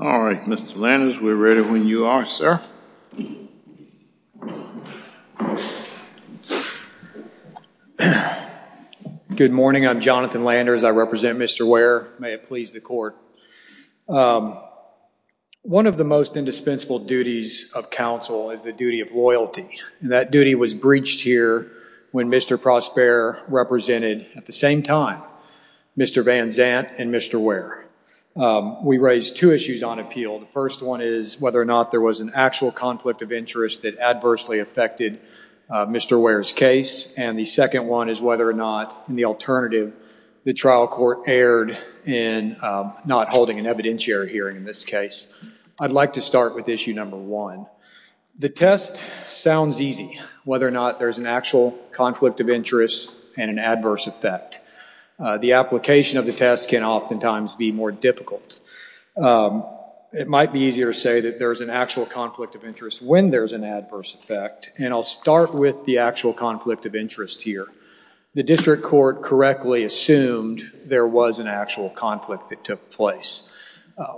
All right, Mr. Landers, we're ready when you are, sir. Good morning, I'm Jonathan Landers, I represent Mr. Ware, may it please the court. One of the most indispensable duties of counsel is the duty of loyalty, and that duty was breached here when Mr. Prosper represented, at the same time, Mr. Van Zant and Mr. Ware. We raised two issues on appeal. The first one is whether or not there was an actual conflict of interest that adversely affected Mr. Ware's case, and the second one is whether or not, in the alternative, the trial court erred in not holding an evidentiary hearing in this case. I'd like to start with issue number one. The test sounds easy, whether or not there's an actual conflict of interest and an adverse effect. The application of the more difficult. It might be easier to say that there's an actual conflict of interest when there's an adverse effect, and I'll start with the actual conflict of interest here. The district court correctly assumed there was an actual conflict that took place.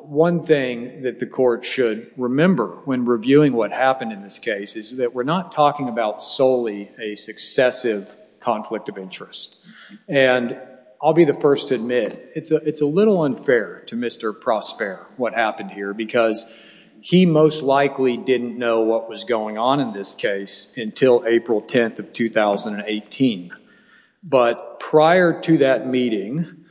One thing that the court should remember when reviewing what happened in this case is that we're not talking about solely a successive conflict of interest. And I'll be the first to admit, it's a little unfair to Mr. Prosper what happened here, because he most likely didn't know what was going on in this case until April 10th of 2018. But prior to that meeting,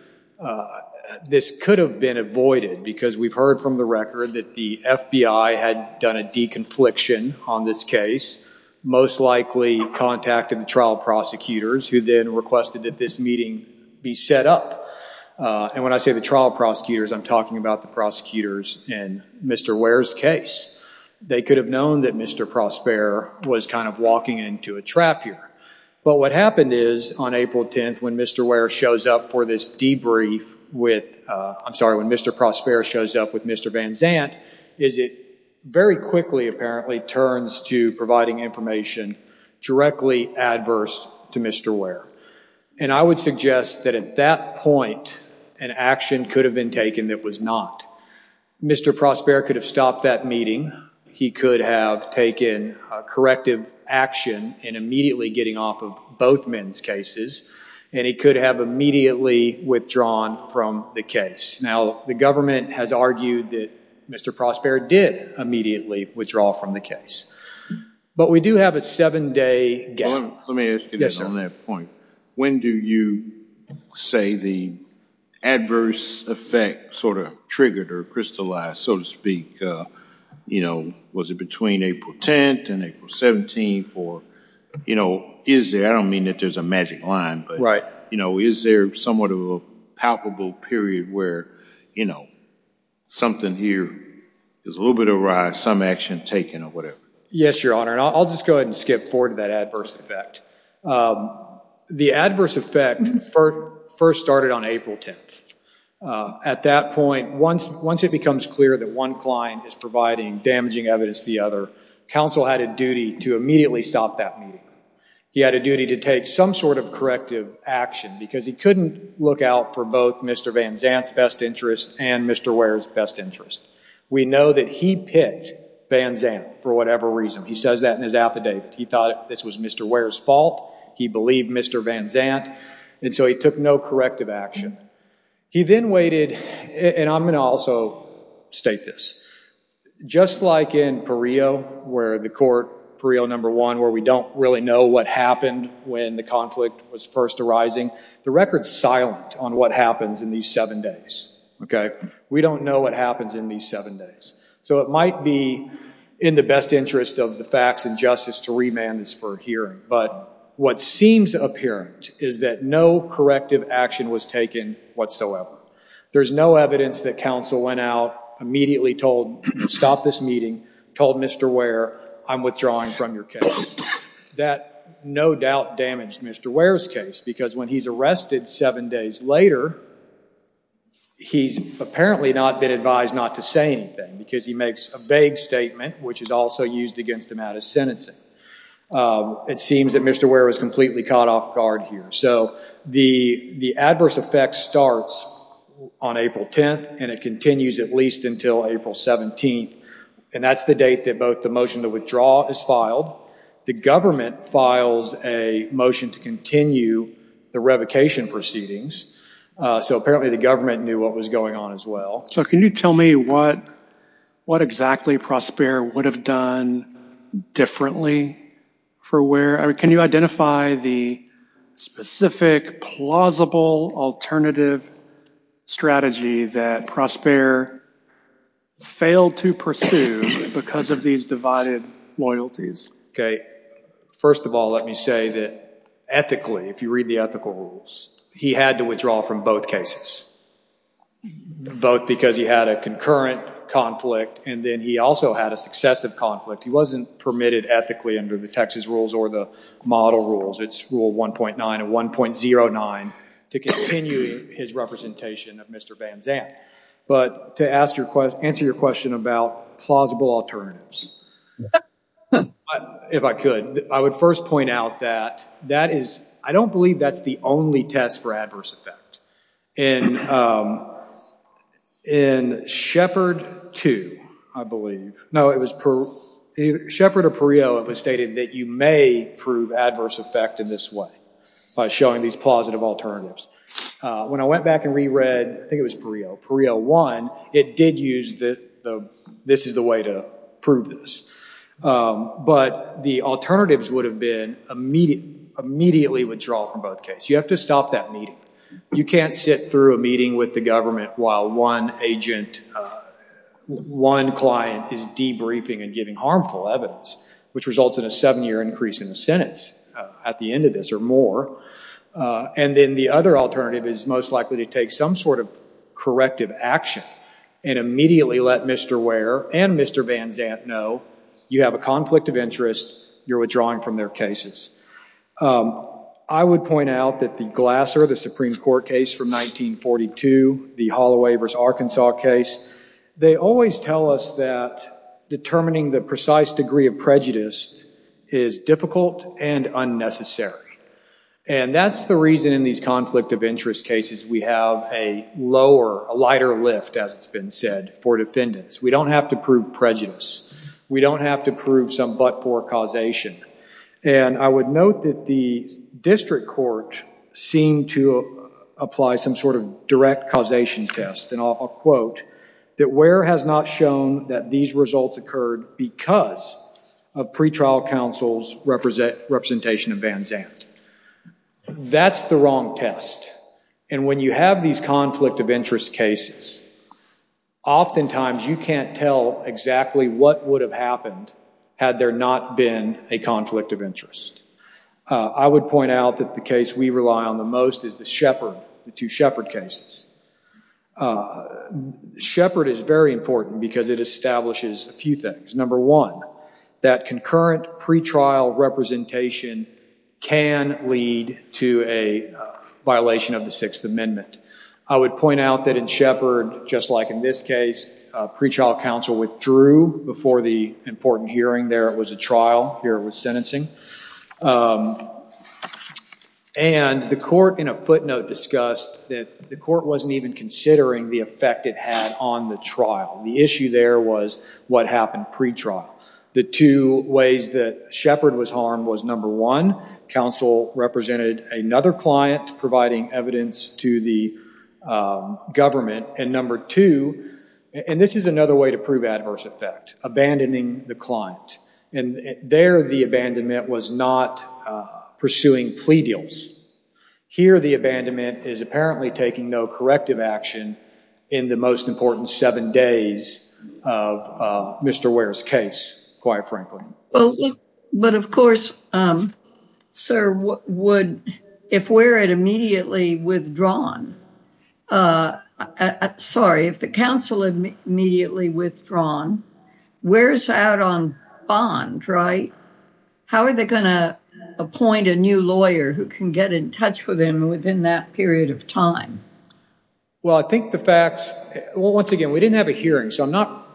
this could have been avoided, because we've heard from the record that the FBI had done a deconfliction on this case, most likely contacted the trial prosecutors, who then requested that this meeting be set up. And when I say the trial prosecutors, I'm talking about the prosecutors in Mr. Ware's case. They could have known that Mr. Prosper was kind of walking into a trap here. But what happened is, on April 10th, when Mr. Ware shows up for this debrief with, I'm sorry, when Mr. Prosper shows up with Mr. Van Zant, is it very quickly, apparently, turns to providing information directly adverse to Mr. Ware. And I would suggest that at that point, an action could have been taken that was not. Mr. Prosper could have stopped that meeting. He could have taken corrective action in immediately getting off of both men's cases. And he could have immediately withdrawn from the case. Now, the government has argued that Mr. Prosper did immediately withdraw from the case. But we do have a seven-day gap. Let me ask you this on that point. When do you say the adverse effect sort of triggered or crystallized, so to speak? You know, was it between April 10th and April 17th? Or, you know, is there, I don't mean that there's a magic line, but, you know, is there somewhat of a palpable period where, you know, something here is a little bit of a riot, some action taken or whatever? Yes, Your Honor. And I'll just go ahead and skip forward to that adverse effect. The adverse effect first started on April 10th. At that point, once it becomes clear that one client is providing damaging evidence to the other, counsel had a duty to immediately stop that meeting. He had a duty to take some sort of corrective action because he couldn't look out for both Mr. Van Zandt's best interest and Mr. Ware's best interest. We know that he picked Van Zandt for whatever reason. He says that in his affidavit. He thought this was Mr. Ware's fault. He believed Mr. Van Zandt. And so he took no corrective action. He then waited, and I'm going to also state this. Just like in Pareo where the court, Pareo number one, where we don't really know what happened when the conflict was first arising, the record's silent on what happens in these seven days, okay? We don't know what happens in these seven days. So it might be in the best interest of the facts and justice to remand this for hearing. But what seems apparent is that no corrective action was taken whatsoever. There's no evidence that counsel went out, immediately told, stop this meeting, told Mr. Ware, I'm withdrawing from your case. That no doubt damaged Mr. Ware's case because when he's arrested seven days later, he's apparently not been advised not to say anything because he makes a vague statement, which is also used against him out of sentencing. It seems that Mr. Ware was completely caught off guard here. So the adverse effect starts on April 10th, and it continues at least until April 17th. And that's the date that both the motion to withdraw is filed. The government files a motion to continue the revocation proceedings. So apparently the government knew what was going on as well. So can you tell me what exactly Prospera would have done differently for Ware? I mean, can you identify the specific, plausible, alternative strategy that Prospera failed to pursue because of these divided loyalties? First of all, let me say that ethically, if you read the ethical rules, he had to withdraw from both cases, both because he had a concurrent conflict, and then he also had a successive conflict. He wasn't permitted ethically under the Texas rules or the model rules. It's rule 1.9 and 1.09 to continue his representation of Mr. Van Zandt. But to answer your question about plausible alternatives, if I could, I would first point out that that is, I don't believe that's the only test for adverse effect. In Shepard 2, I believe, no, it was Prospera or Pareo, it was stated that you may prove adverse effect in this way by showing these plausible alternatives. When I went back and reread, I think it was Pareo, Pareo 1, it did use this is the way to prove this. But the alternatives would have been immediately withdrawal from both cases. You have to stop that meeting. You can't sit through a meeting with the government while one agent, one client is debriefing and giving harmful evidence, which results in a seven-year increase in the sentence at the end of this or more. And then the other alternative is most likely to take some sort of corrective action and immediately let Mr. Ware and Mr. Van Zandt know, you have a conflict of interest, you're withdrawing from their cases. I would point out that the Glasser, the Supreme Court case from 1942, the Holloway v. Arkansas case, they always tell us that determining the precise degree of prejudice is difficult and unnecessary. And that's the reason in these conflict of interest cases we have a lower, a lighter lift, as it's been said, for defendants. We don't have to prove prejudice. We don't have to prove some but-for causation. And I would note that the district court seemed to apply some sort of direct causation test. And I'll quote, that Ware has not shown that these results occurred because of pretrial counsel's representation of Van Zandt. That's the wrong test. And when you have these conflict of interest cases, oftentimes you can't tell exactly what would have happened had there not been a conflict of interest. I would point out that the case we rely on the most is the Shepard, the two Shepard cases. Shepard is very important because it establishes a few things. Number one, that concurrent pretrial representation can lead to a violation of the Sixth Amendment. I would point out that in Shepard, just like in this case, pretrial counsel withdrew before the important hearing there. It was a trial. Here it was sentencing. And the court in a footnote discussed that the court wasn't even considering the effect it had on the trial. The issue there was what happened pretrial. The two ways that Shepard was harmed was, number one, counsel represented another client providing evidence to the government. And number two, and this is another way to prove adverse effect, abandoning the client. And there the abandonment was not pursuing plea deals. Here the abandonment is apparently taking no corrective action in the most important seven days of Mr. Ware's case, quite frankly. But of course, sir, if Ware had immediately withdrawn, I think that would have been a problem. Sorry, if the counsel had immediately withdrawn, Ware's out on bond, right? How are they going to appoint a new lawyer who can get in touch with him within that period of time? Well, I think the facts, once again, we didn't have a hearing, so I'm not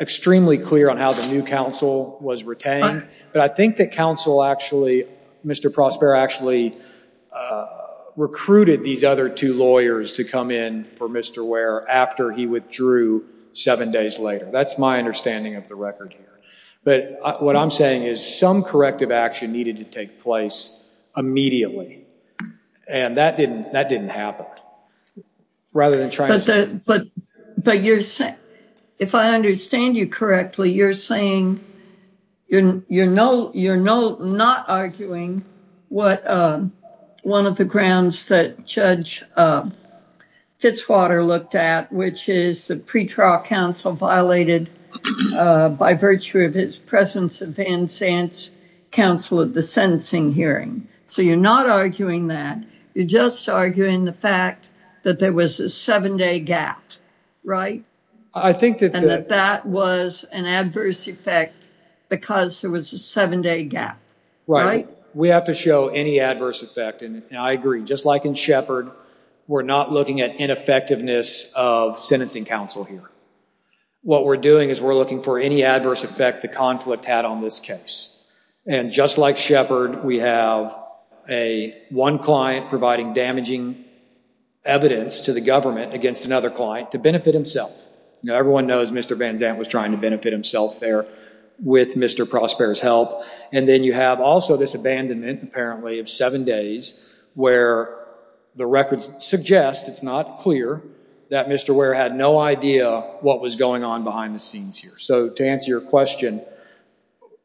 extremely clear on how the new counsel was retained. But I think that counsel actually, Mr. Prospera actually recruited these other two lawyers to come in for Mr. Ware after he withdrew seven days later. That's my understanding of the record here. But what I'm saying is some corrective action needed to take place immediately. And that didn't happen. Rather than trying to... But if I understand you correctly, you're saying you're not arguing what one of the grounds that Judge Fitzwater looked at, which is the pretrial counsel violated by virtue of his presence at Van Zandt's counsel at the sentencing hearing. So you're not arguing that. You're just arguing the fact that there was a seven-day gap, right? And that that was an adverse effect because there was a seven-day gap, right? We have to show any adverse effect. And I agree. Just like in Shepard, we're not looking at ineffectiveness of sentencing counsel here. What we're doing is we're looking for any adverse effect the conflict had on this case. And just like Shepard, we have one client providing damaging evidence to the government against another client to benefit himself. Everyone knows Mr. Van Zandt was trying to benefit himself there with Mr. Prosper's help. And then you have also this abandonment, apparently, of seven days where the records suggest, it's not clear, that Mr. Ware had no idea what was going on behind the scenes here. So to answer your question,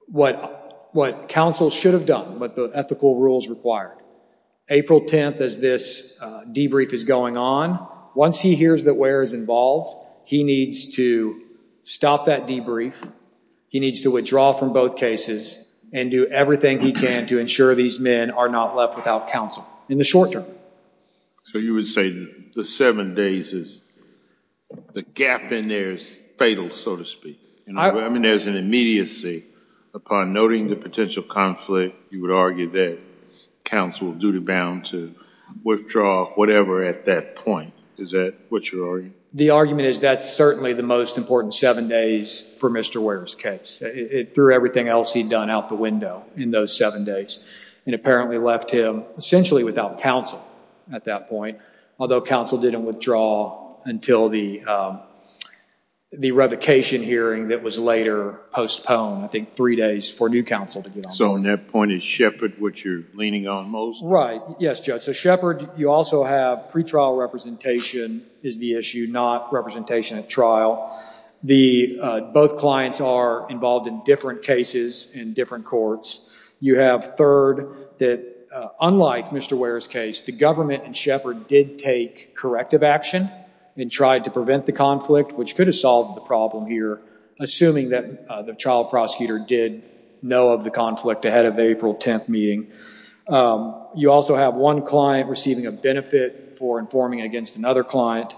what counsel should have done, what the ethical rules required, April 10th as this debrief is going on, once he hears that Ware is involved, he needs to stop that debrief. He needs to withdraw from both cases and do everything he can to ensure these men are not left without counsel in the short term. So you would say the seven days is, the gap in there is fatal, so to speak. I mean, there's an immediacy upon noting the potential conflict, you would argue that counsel is duty-bound to withdraw whatever at that point. Is that what you're arguing? The argument is that's certainly the most important seven days for Mr. Ware's case. It threw everything else he'd done out the window in those seven days and apparently left him essentially without counsel at that point. Although counsel didn't withdraw until the revocation hearing that was later postponed, I think three days for new counsel to get So on that point, is Shepard what you're leaning on most? Right. Yes, Judge. So Shepard, you also have pretrial representation is the issue, not representation at trial. Both clients are involved in different cases in different courts. You have third, that unlike Mr. Ware's case, the government and Shepard did take corrective action and tried to prevent the conflict, which could have solved the problem here, assuming that the trial prosecutor did know of the conflict ahead of the April 10th meeting. You also have one client receiving a benefit for informing against another client.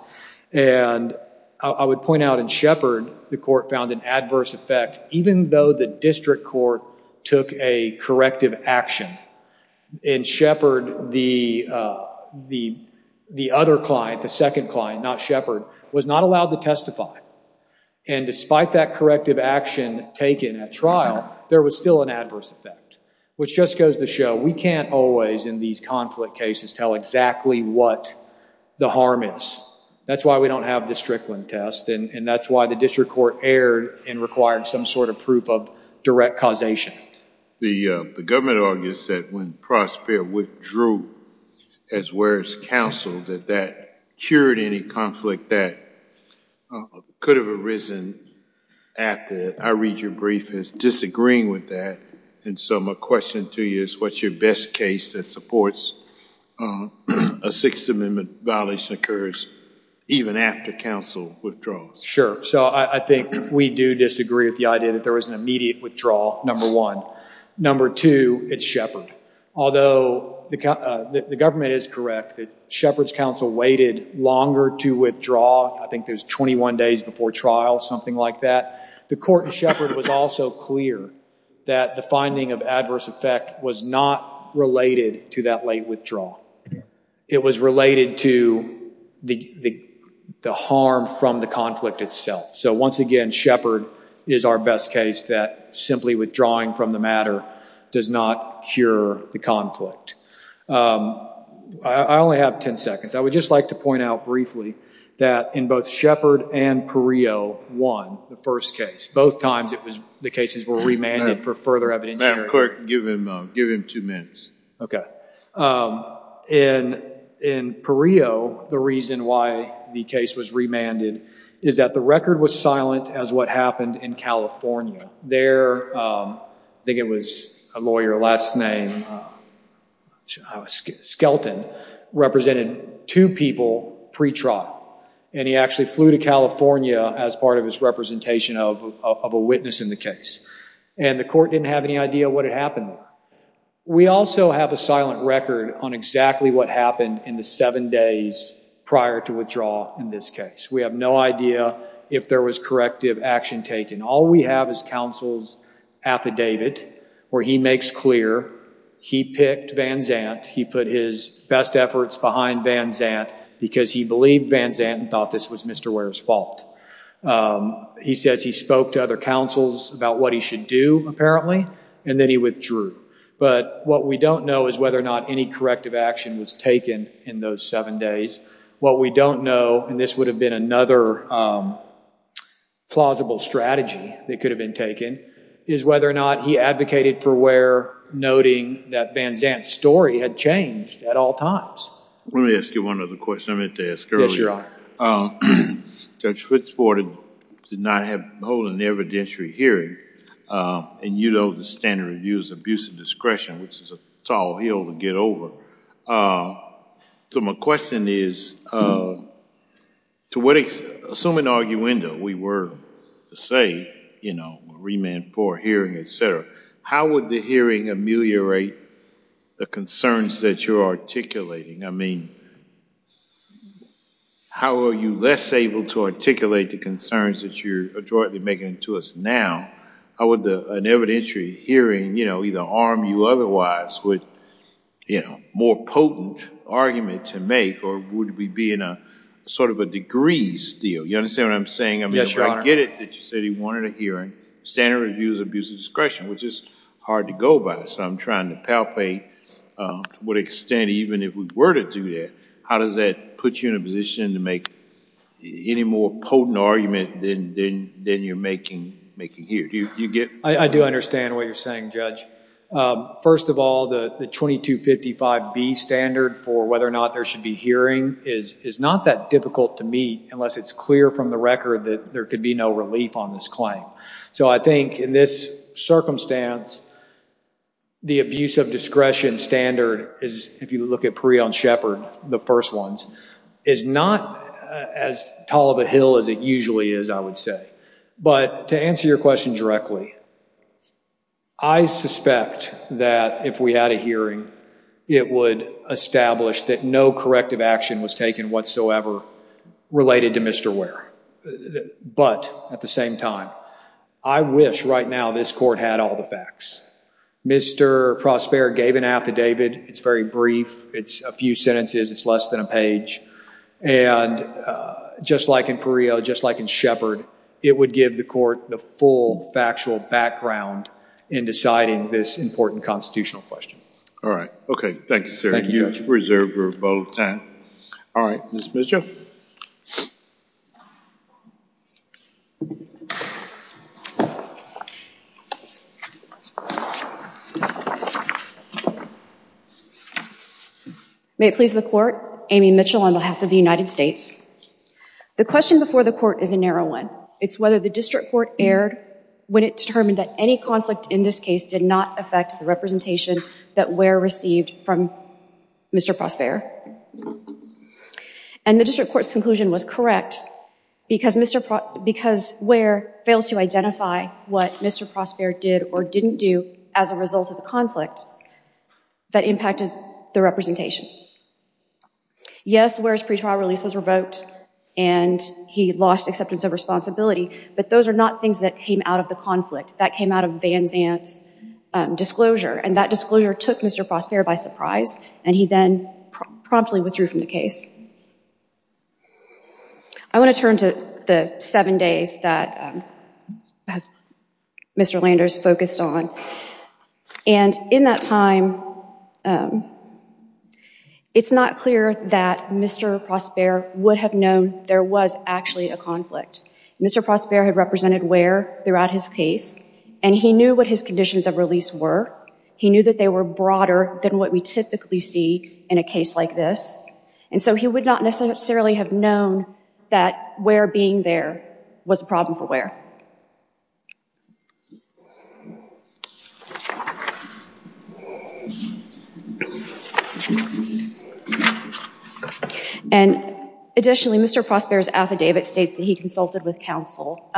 And I would point out in Shepard, the court found an adverse effect, even though the district court took a corrective action. In Shepard, the other client, the second client, not Shepard, was not allowed to testify. And despite that corrective action taken at trial, there was still an adverse effect, which just goes to show we can't always in these conflict cases tell exactly what the harm is. That's why we don't have the Strickland test and that's why the district court erred and required some sort of proof of direct causation. The government argues that when Prosper withdrew as Ware's counsel, that that cured any conflict that could have arisen after. I read your brief as disagreeing with that. And so my question to you is what's your best case that supports a Sixth Amendment violation occurs even after counsel withdraws? Sure. So I think we do disagree with the idea that there was an immediate withdrawal, number one. Number two, it's Shepard. Although the government is correct that Shepard's counsel waited longer to withdraw. I think there's 21 days before trial, something like that. The court in Shepard was also clear that the finding of adverse effect was not related to that late withdrawal. It was related to the harm from the conflict itself. So once again, Shepard is our best case that simply withdrawing from the matter does not cure the conflict. I only have 10 seconds. I would just like to point out briefly that in both Shepard and Perillo, one, the first case, both times the cases were remanded for further evidence. Madam Clerk, give him two minutes. In Perillo, the reason why the case was remanded is that the record was silent as what happened in California. There, I think it was a lawyer, last name, Skelton, represented two people pre-trial. And he actually flew to California as part of his representation of a witness in the case. And the court didn't have any idea what had happened. We also have a silent record on exactly what happened in the seven days prior to withdrawal in this case. We have no idea if there was corrective action taken. All we have is counsel's affidavit where he makes clear he picked Van Zandt. He put his best efforts behind Van Zandt because he believed Van Zandt and thought this was Mr. Ware's fault. He says he spoke to other counsels about what he should do, apparently, and then he withdrew. But what we don't know is whether or not any corrective action was taken in those seven days. What we don't know, and this would have been another plausible strategy that could have been taken, is whether or not he advocated for Ware, noting that Van Zandt's story had changed at all times. Let me ask you one other question I meant to ask earlier. Yes, Your Honor. Judge Fittsport did not hold an evidentiary hearing, and you know the standard of use, abuse of discretion, which is a tall hill to get over. So my question is, to what extent, assuming arguendo, we were to say remand for hearing, et cetera, how would the hearing ameliorate the concerns that you're articulating? I mean, how are you less able to articulate the concerns that you're adroitly making to us now? How would an evidentiary hearing, you know, either harm you otherwise with, you know, more potent argument to make, or would we be in a sort of a degrees deal? You understand what I'm saying? Yes, Your Honor. I mean, I get it that you said he wanted a hearing, standard of use, abuse of discretion, which is hard to go by. So I'm trying to palpate to what extent, even if we were to do that, how does that put you in a position to make any more potent argument than you're making here? Do you get... I do understand what you're saying, Judge. First of all, the 2255B standard for whether or not there should be hearing is not that difficult to meet unless it's clear from the record that there could be no relief on this claim. So I think in this circumstance, the abuse of discretion standard is, if you look at Pree on Shepard, the first ones, is not as tall of a hill as it usually is, I would say. But to answer your question directly, I suspect that if we had a hearing, it would establish that no corrective action was taken whatsoever related to Mr. Ware. But at the same time, I wish right now this court had all the facts. Mr. Prosper gave an affidavit. It's very brief. It's a few sentences. It's less than a page. And just like in Pree, just like in Shepard, it would give the court the full factual background in deciding this important constitutional question. All right. Okay. Thank you, sir. You reserve your vote. All right. Ms. Mitchell. May it please the court. Amy Mitchell on behalf of the United States. The question before the court is a narrow one. It's whether the district court erred when it determined that any conflict in this case did not affect the representation that Ware received from Mr. Prosper. And the district court's conclusion was correct, because Ware fails to identify what Mr. Prosper did or didn't do as a result of the conflict that impacted the representation. Yes, Ware's pretrial release was revoked, and he lost acceptance of responsibility. But those are not things that came out of the conflict. That came out of Van Zandt's disclosure. And that disclosure took Mr. Prosper by surprise, and he then promptly withdrew from the case. I want to turn to the seven days that Mr. Landers focused on. And in that time, it's not clear that Mr. Prosper would have known there was actually a conflict. Mr. Prosper had represented Ware throughout his case, and he knew what his conditions of release were. He knew that they were broader than what we typically see in a case like this. And so he would not necessarily have known that Ware being there was a problem for Ware. And additionally, Mr. Prosper's affidavit states that he consulted with counsel.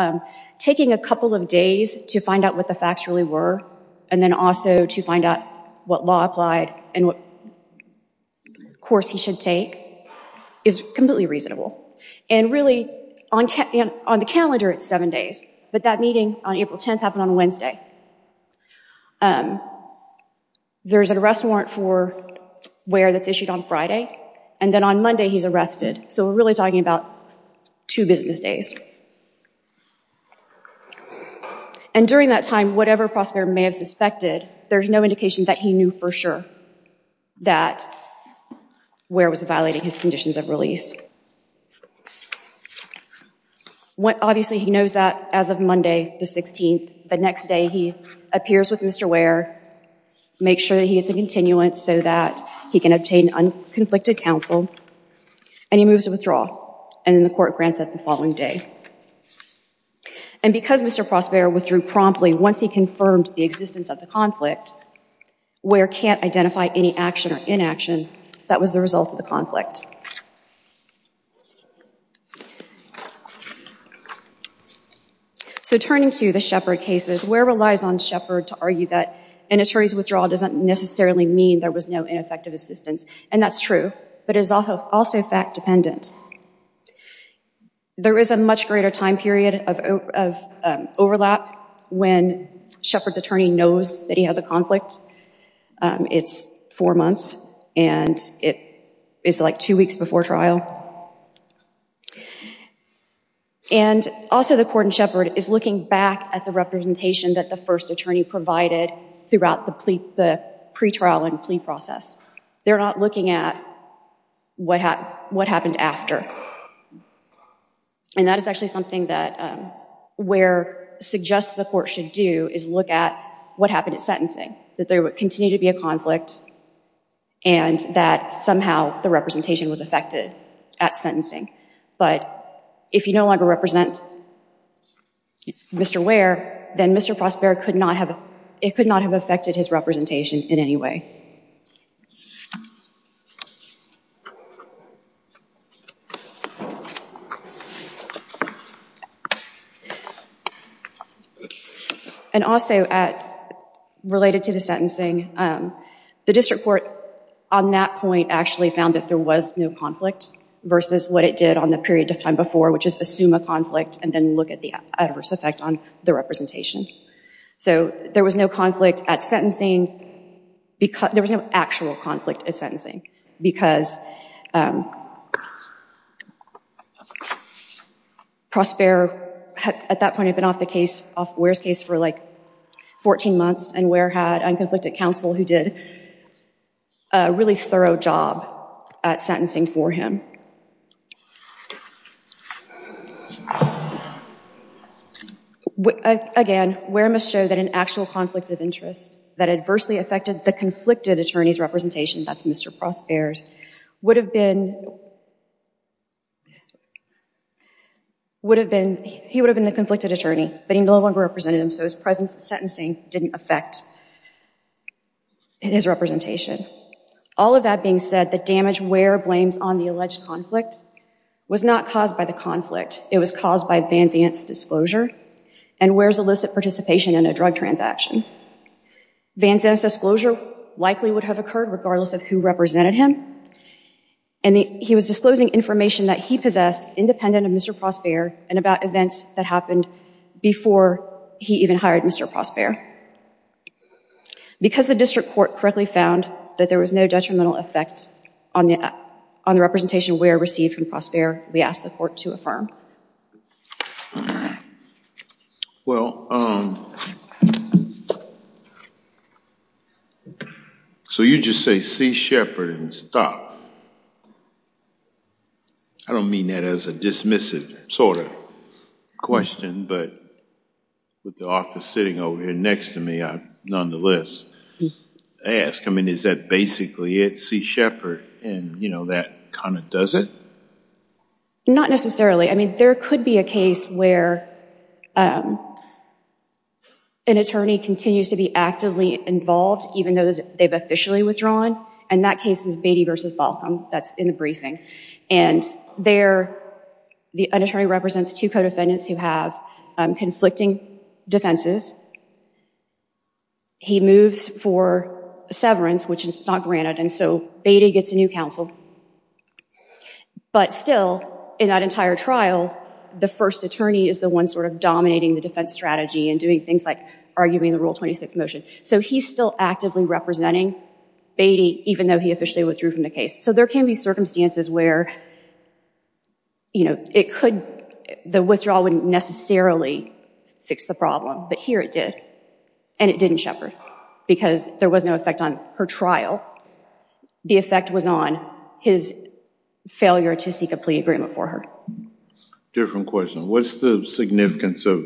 Taking a couple of days to find out what the facts really were, and then also to find out what law applied and what course he should take is completely reasonable. And really, on the calendar, it's seven days. But that meeting on April 10th happened on Wednesday. There's an arrest warrant for Ware that's issued on And then on Monday, he's arrested. So we're really talking about two business days. And during that time, whatever Prosper may have suspected, there's no indication that he knew for sure that Ware was violating his conditions of release. Obviously, he knows that as of Monday the 16th, the next day he appears with Mr. Ware, makes sure that he gets a continuance so that he can obtain unconflicted counsel, and he moves to withdraw. And then the court grants that the following day. And because Mr. Prosper withdrew promptly once he confirmed the existence of the conflict, Ware can't identify any action or inaction that was the result of the conflict. So turning to the Sheppard cases, Ware relies on Sheppard to argue that an attorney's withdrawal doesn't necessarily mean there was no ineffective assistance. And that's true, but it's also fact-dependent. There is a much greater time period of overlap when Sheppard's attorney knows that he has a conflict. It's four months, and it is like two weeks before trial. And also, the court in Sheppard is looking back at the representation that the first attorney provided throughout the pretrial and plea process. They're not looking at what happened after. And that is actually something that Ware suggests the court should do, is look at what happened at sentencing, that there would continue to be a conflict, and that somehow the representation was affected at sentencing. But if you no longer represent Mr. Ware, then Mr. Prosper could not have, it could not have affected his representation in any way. And also, related to the sentencing, the district court on that point actually found that there was no conflict versus what it did on the period of time before, which is assume a conflict and then look at the adverse effect on the representation. So there was no conflict at sentencing, there was no actual conflict at sentencing, because Prosper at that point had been off the case, off Ware's case for like 14 months, and Ware had unconflicted counsel who did a really thorough job at sentencing for him. Again, Ware must show that an actual conflict of interest that adversely affected the conflicted attorney's representation, that's Mr. Prosper's, would have been, would have been, he would have been the conflicted attorney, but he no longer represented him, so his sentencing didn't affect his representation. All of that being said, the damage Ware blames on the alleged conflict was not caused by the conflict, it was caused by Van Zant's disclosure and Ware's illicit participation in a drug transaction. Van Zant's disclosure likely would have occurred regardless of who represented him, and he was disclosing information that he possessed independent of Mr. Prosper and about events that happened before he even hired Mr. Prosper. Because the district court correctly found that there was no detrimental effect on the representation Ware received from Prosper, we ask the court to affirm. Well, so you just say C. Shepard and stop. I don't mean that as a dismissive sort of question, but with the author sitting over here next to me, I nonetheless ask, I mean, is that basically it, C. Shepard, and you know, that kind of does it? Not necessarily. I mean, there could be a case where an attorney continues to be actively involved, even though they've officially withdrawn, and that case is Beatty versus Balcombe, that's in the briefing. And there, the attorney represents two co-defendants who have conflicting defenses. He moves for severance, which is not granted, and so Beatty gets a new counsel. But still, in that entire trial, the first attorney is the one sort of dominating the defense strategy and doing things like arguing the Rule 26 motion. So he's still actively representing Beatty, even though he officially withdrew from the case. So there can be circumstances where, you know, it could, the withdrawal wouldn't necessarily fix the problem, but here it did. And it didn't, Shepard, because there was no effect on her trial. The effect was on his failure to seek a plea agreement for her. Different question. What's the significance of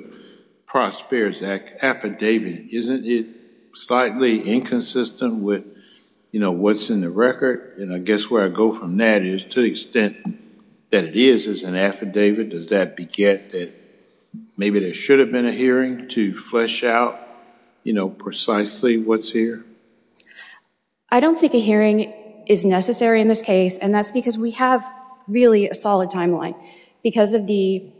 Prosper's affidavit? Isn't it slightly inconsistent with, you know, what's in the record? And I guess where I go from that is to the extent that it is an affidavit, does that beget that maybe there should have been a hearing to flesh out, you know, precisely what's here? I don't think a hearing is necessary in this case, and that's because we have really a solid timeline. Because of the,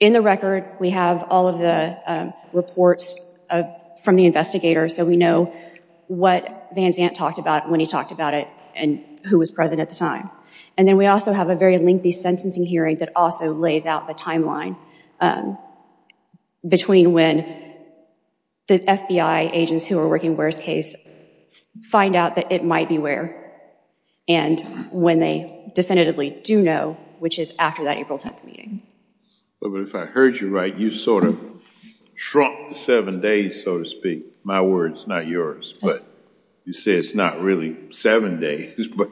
in the record, we have all of the reports from the investigators, so we know what Van Zandt talked about when he talked about it and who was present at the time. And then we also have a very lengthy sentencing hearing that also lays out the timeline between when the FBI agents who are working Ware's case find out that it might be Ware and when they definitively do know, which is after that April 10th meeting. But if I heard you right, you sort of shrunk to seven days, so to speak. My words, not yours. But you say it's not really seven days, but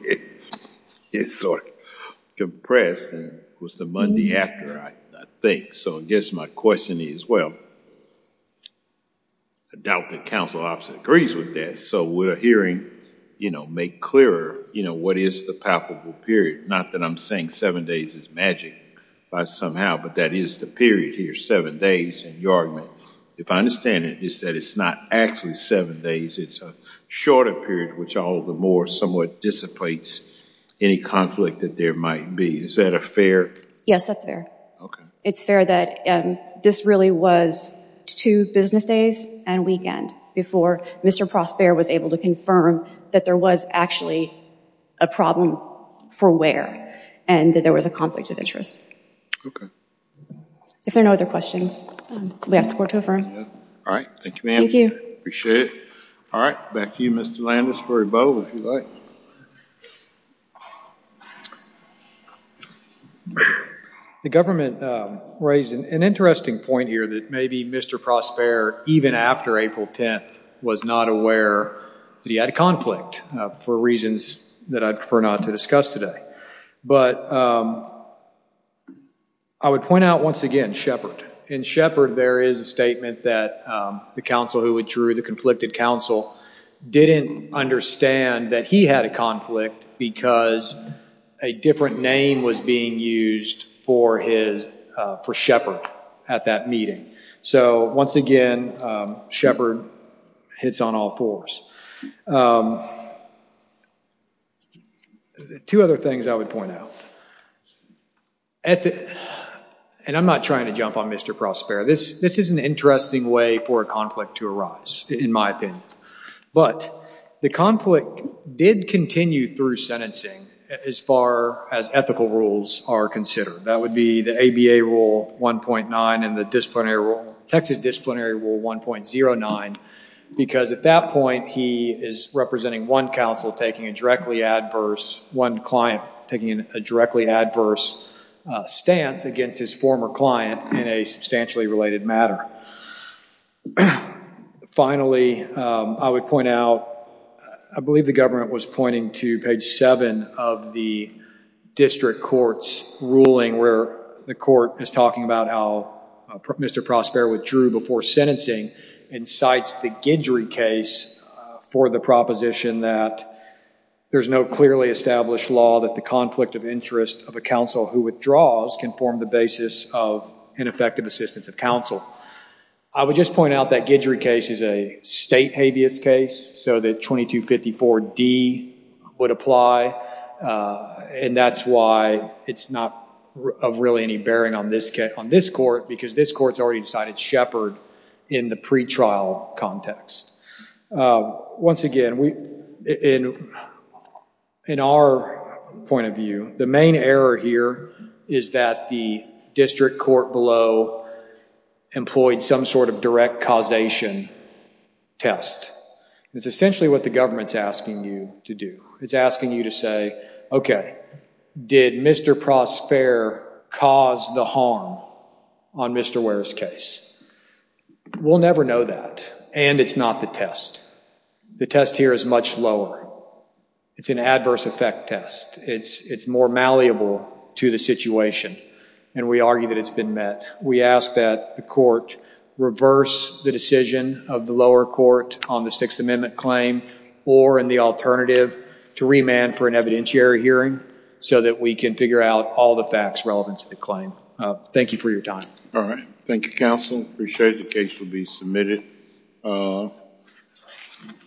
it's sort of compressed. It was the Monday after, I think. So I guess my question is, well, I doubt the counsel opposite agrees with that. So would a hearing, you know, make clearer, you know, what is the palpable period? Not that I'm saying seven days is magic somehow, but that is the period here, seven days. And your argument, if I understand it, is that it's not actually seven days. It's a shorter period, which all the more somewhat dissipates any conflict that there might be. Is that a fair? Yes, that's fair. It's fair that this really was two business days and weekend before Mr. Prosper was able to confirm that there was actually a problem for Ware and that there was a conflict of interest. Okay. If there are no other questions, we ask for it to affirm. All right. Thank you, ma'am. Thank you. Appreciate it. All right. Back to you, Mr. Landis, or Bo, if you'd like. The government raised an interesting point here that maybe Mr. Prosper, even after April 10th, was not aware that he had a conflict for reasons that I'd prefer not to discuss today. But I would point out once again Shepard. In Shepard, there is a statement that the counsel who withdrew, the conflicted counsel, didn't understand that he had a conflict because a different name was being used for Shepard at that meeting. So once again, Shepard hits on all fours. Two other things I would point out. And I'm not trying to jump on Mr. Prosper. This is an interesting way for a conflict to arise, in my opinion. But the conflict did continue through sentencing as far as ethical rules are considered. That would be the ABA Rule 1.9 and the Texas Disciplinary Rule 1.09. Because at that point, he is representing one counsel taking a directly adverse, one client taking a directly adverse stance against his former client in a substantially related matter. Finally, I would point out, I believe the government was pointing to page 7 of the district court's ruling where the court is talking about how Mr. Prosper withdrew before sentencing and cites the Guidry case for the proposition that there's no clearly established law that the conflict of interest of a counsel who withdraws can form the basis of ineffective assistance of counsel. I would just point out that Guidry case is a state habeas case, so that 2254D would apply. And that's why it's not of really any bearing on this court, because this court's already decided Shepard in the pretrial context. Once again, in our point of view, the main error here is that the district court below employed some sort of direct causation test. It's essentially what the government's asking you to do. It's asking you to say, okay, did Mr. Prosper cause the harm on Mr. Ware's case? We'll never know that, and it's not the test. The test here is much lower. It's an adverse effect test. It's more malleable to the situation, and we argue that it's been met. We ask that the court reverse the decision of the lower court on the Sixth Amendment claim or in the alternative to remand for an evidentiary hearing so that we can figure out all the facts relevant to the claim. Thank you for your time. All right. Thank you, counsel. Appreciate the case will be submitted.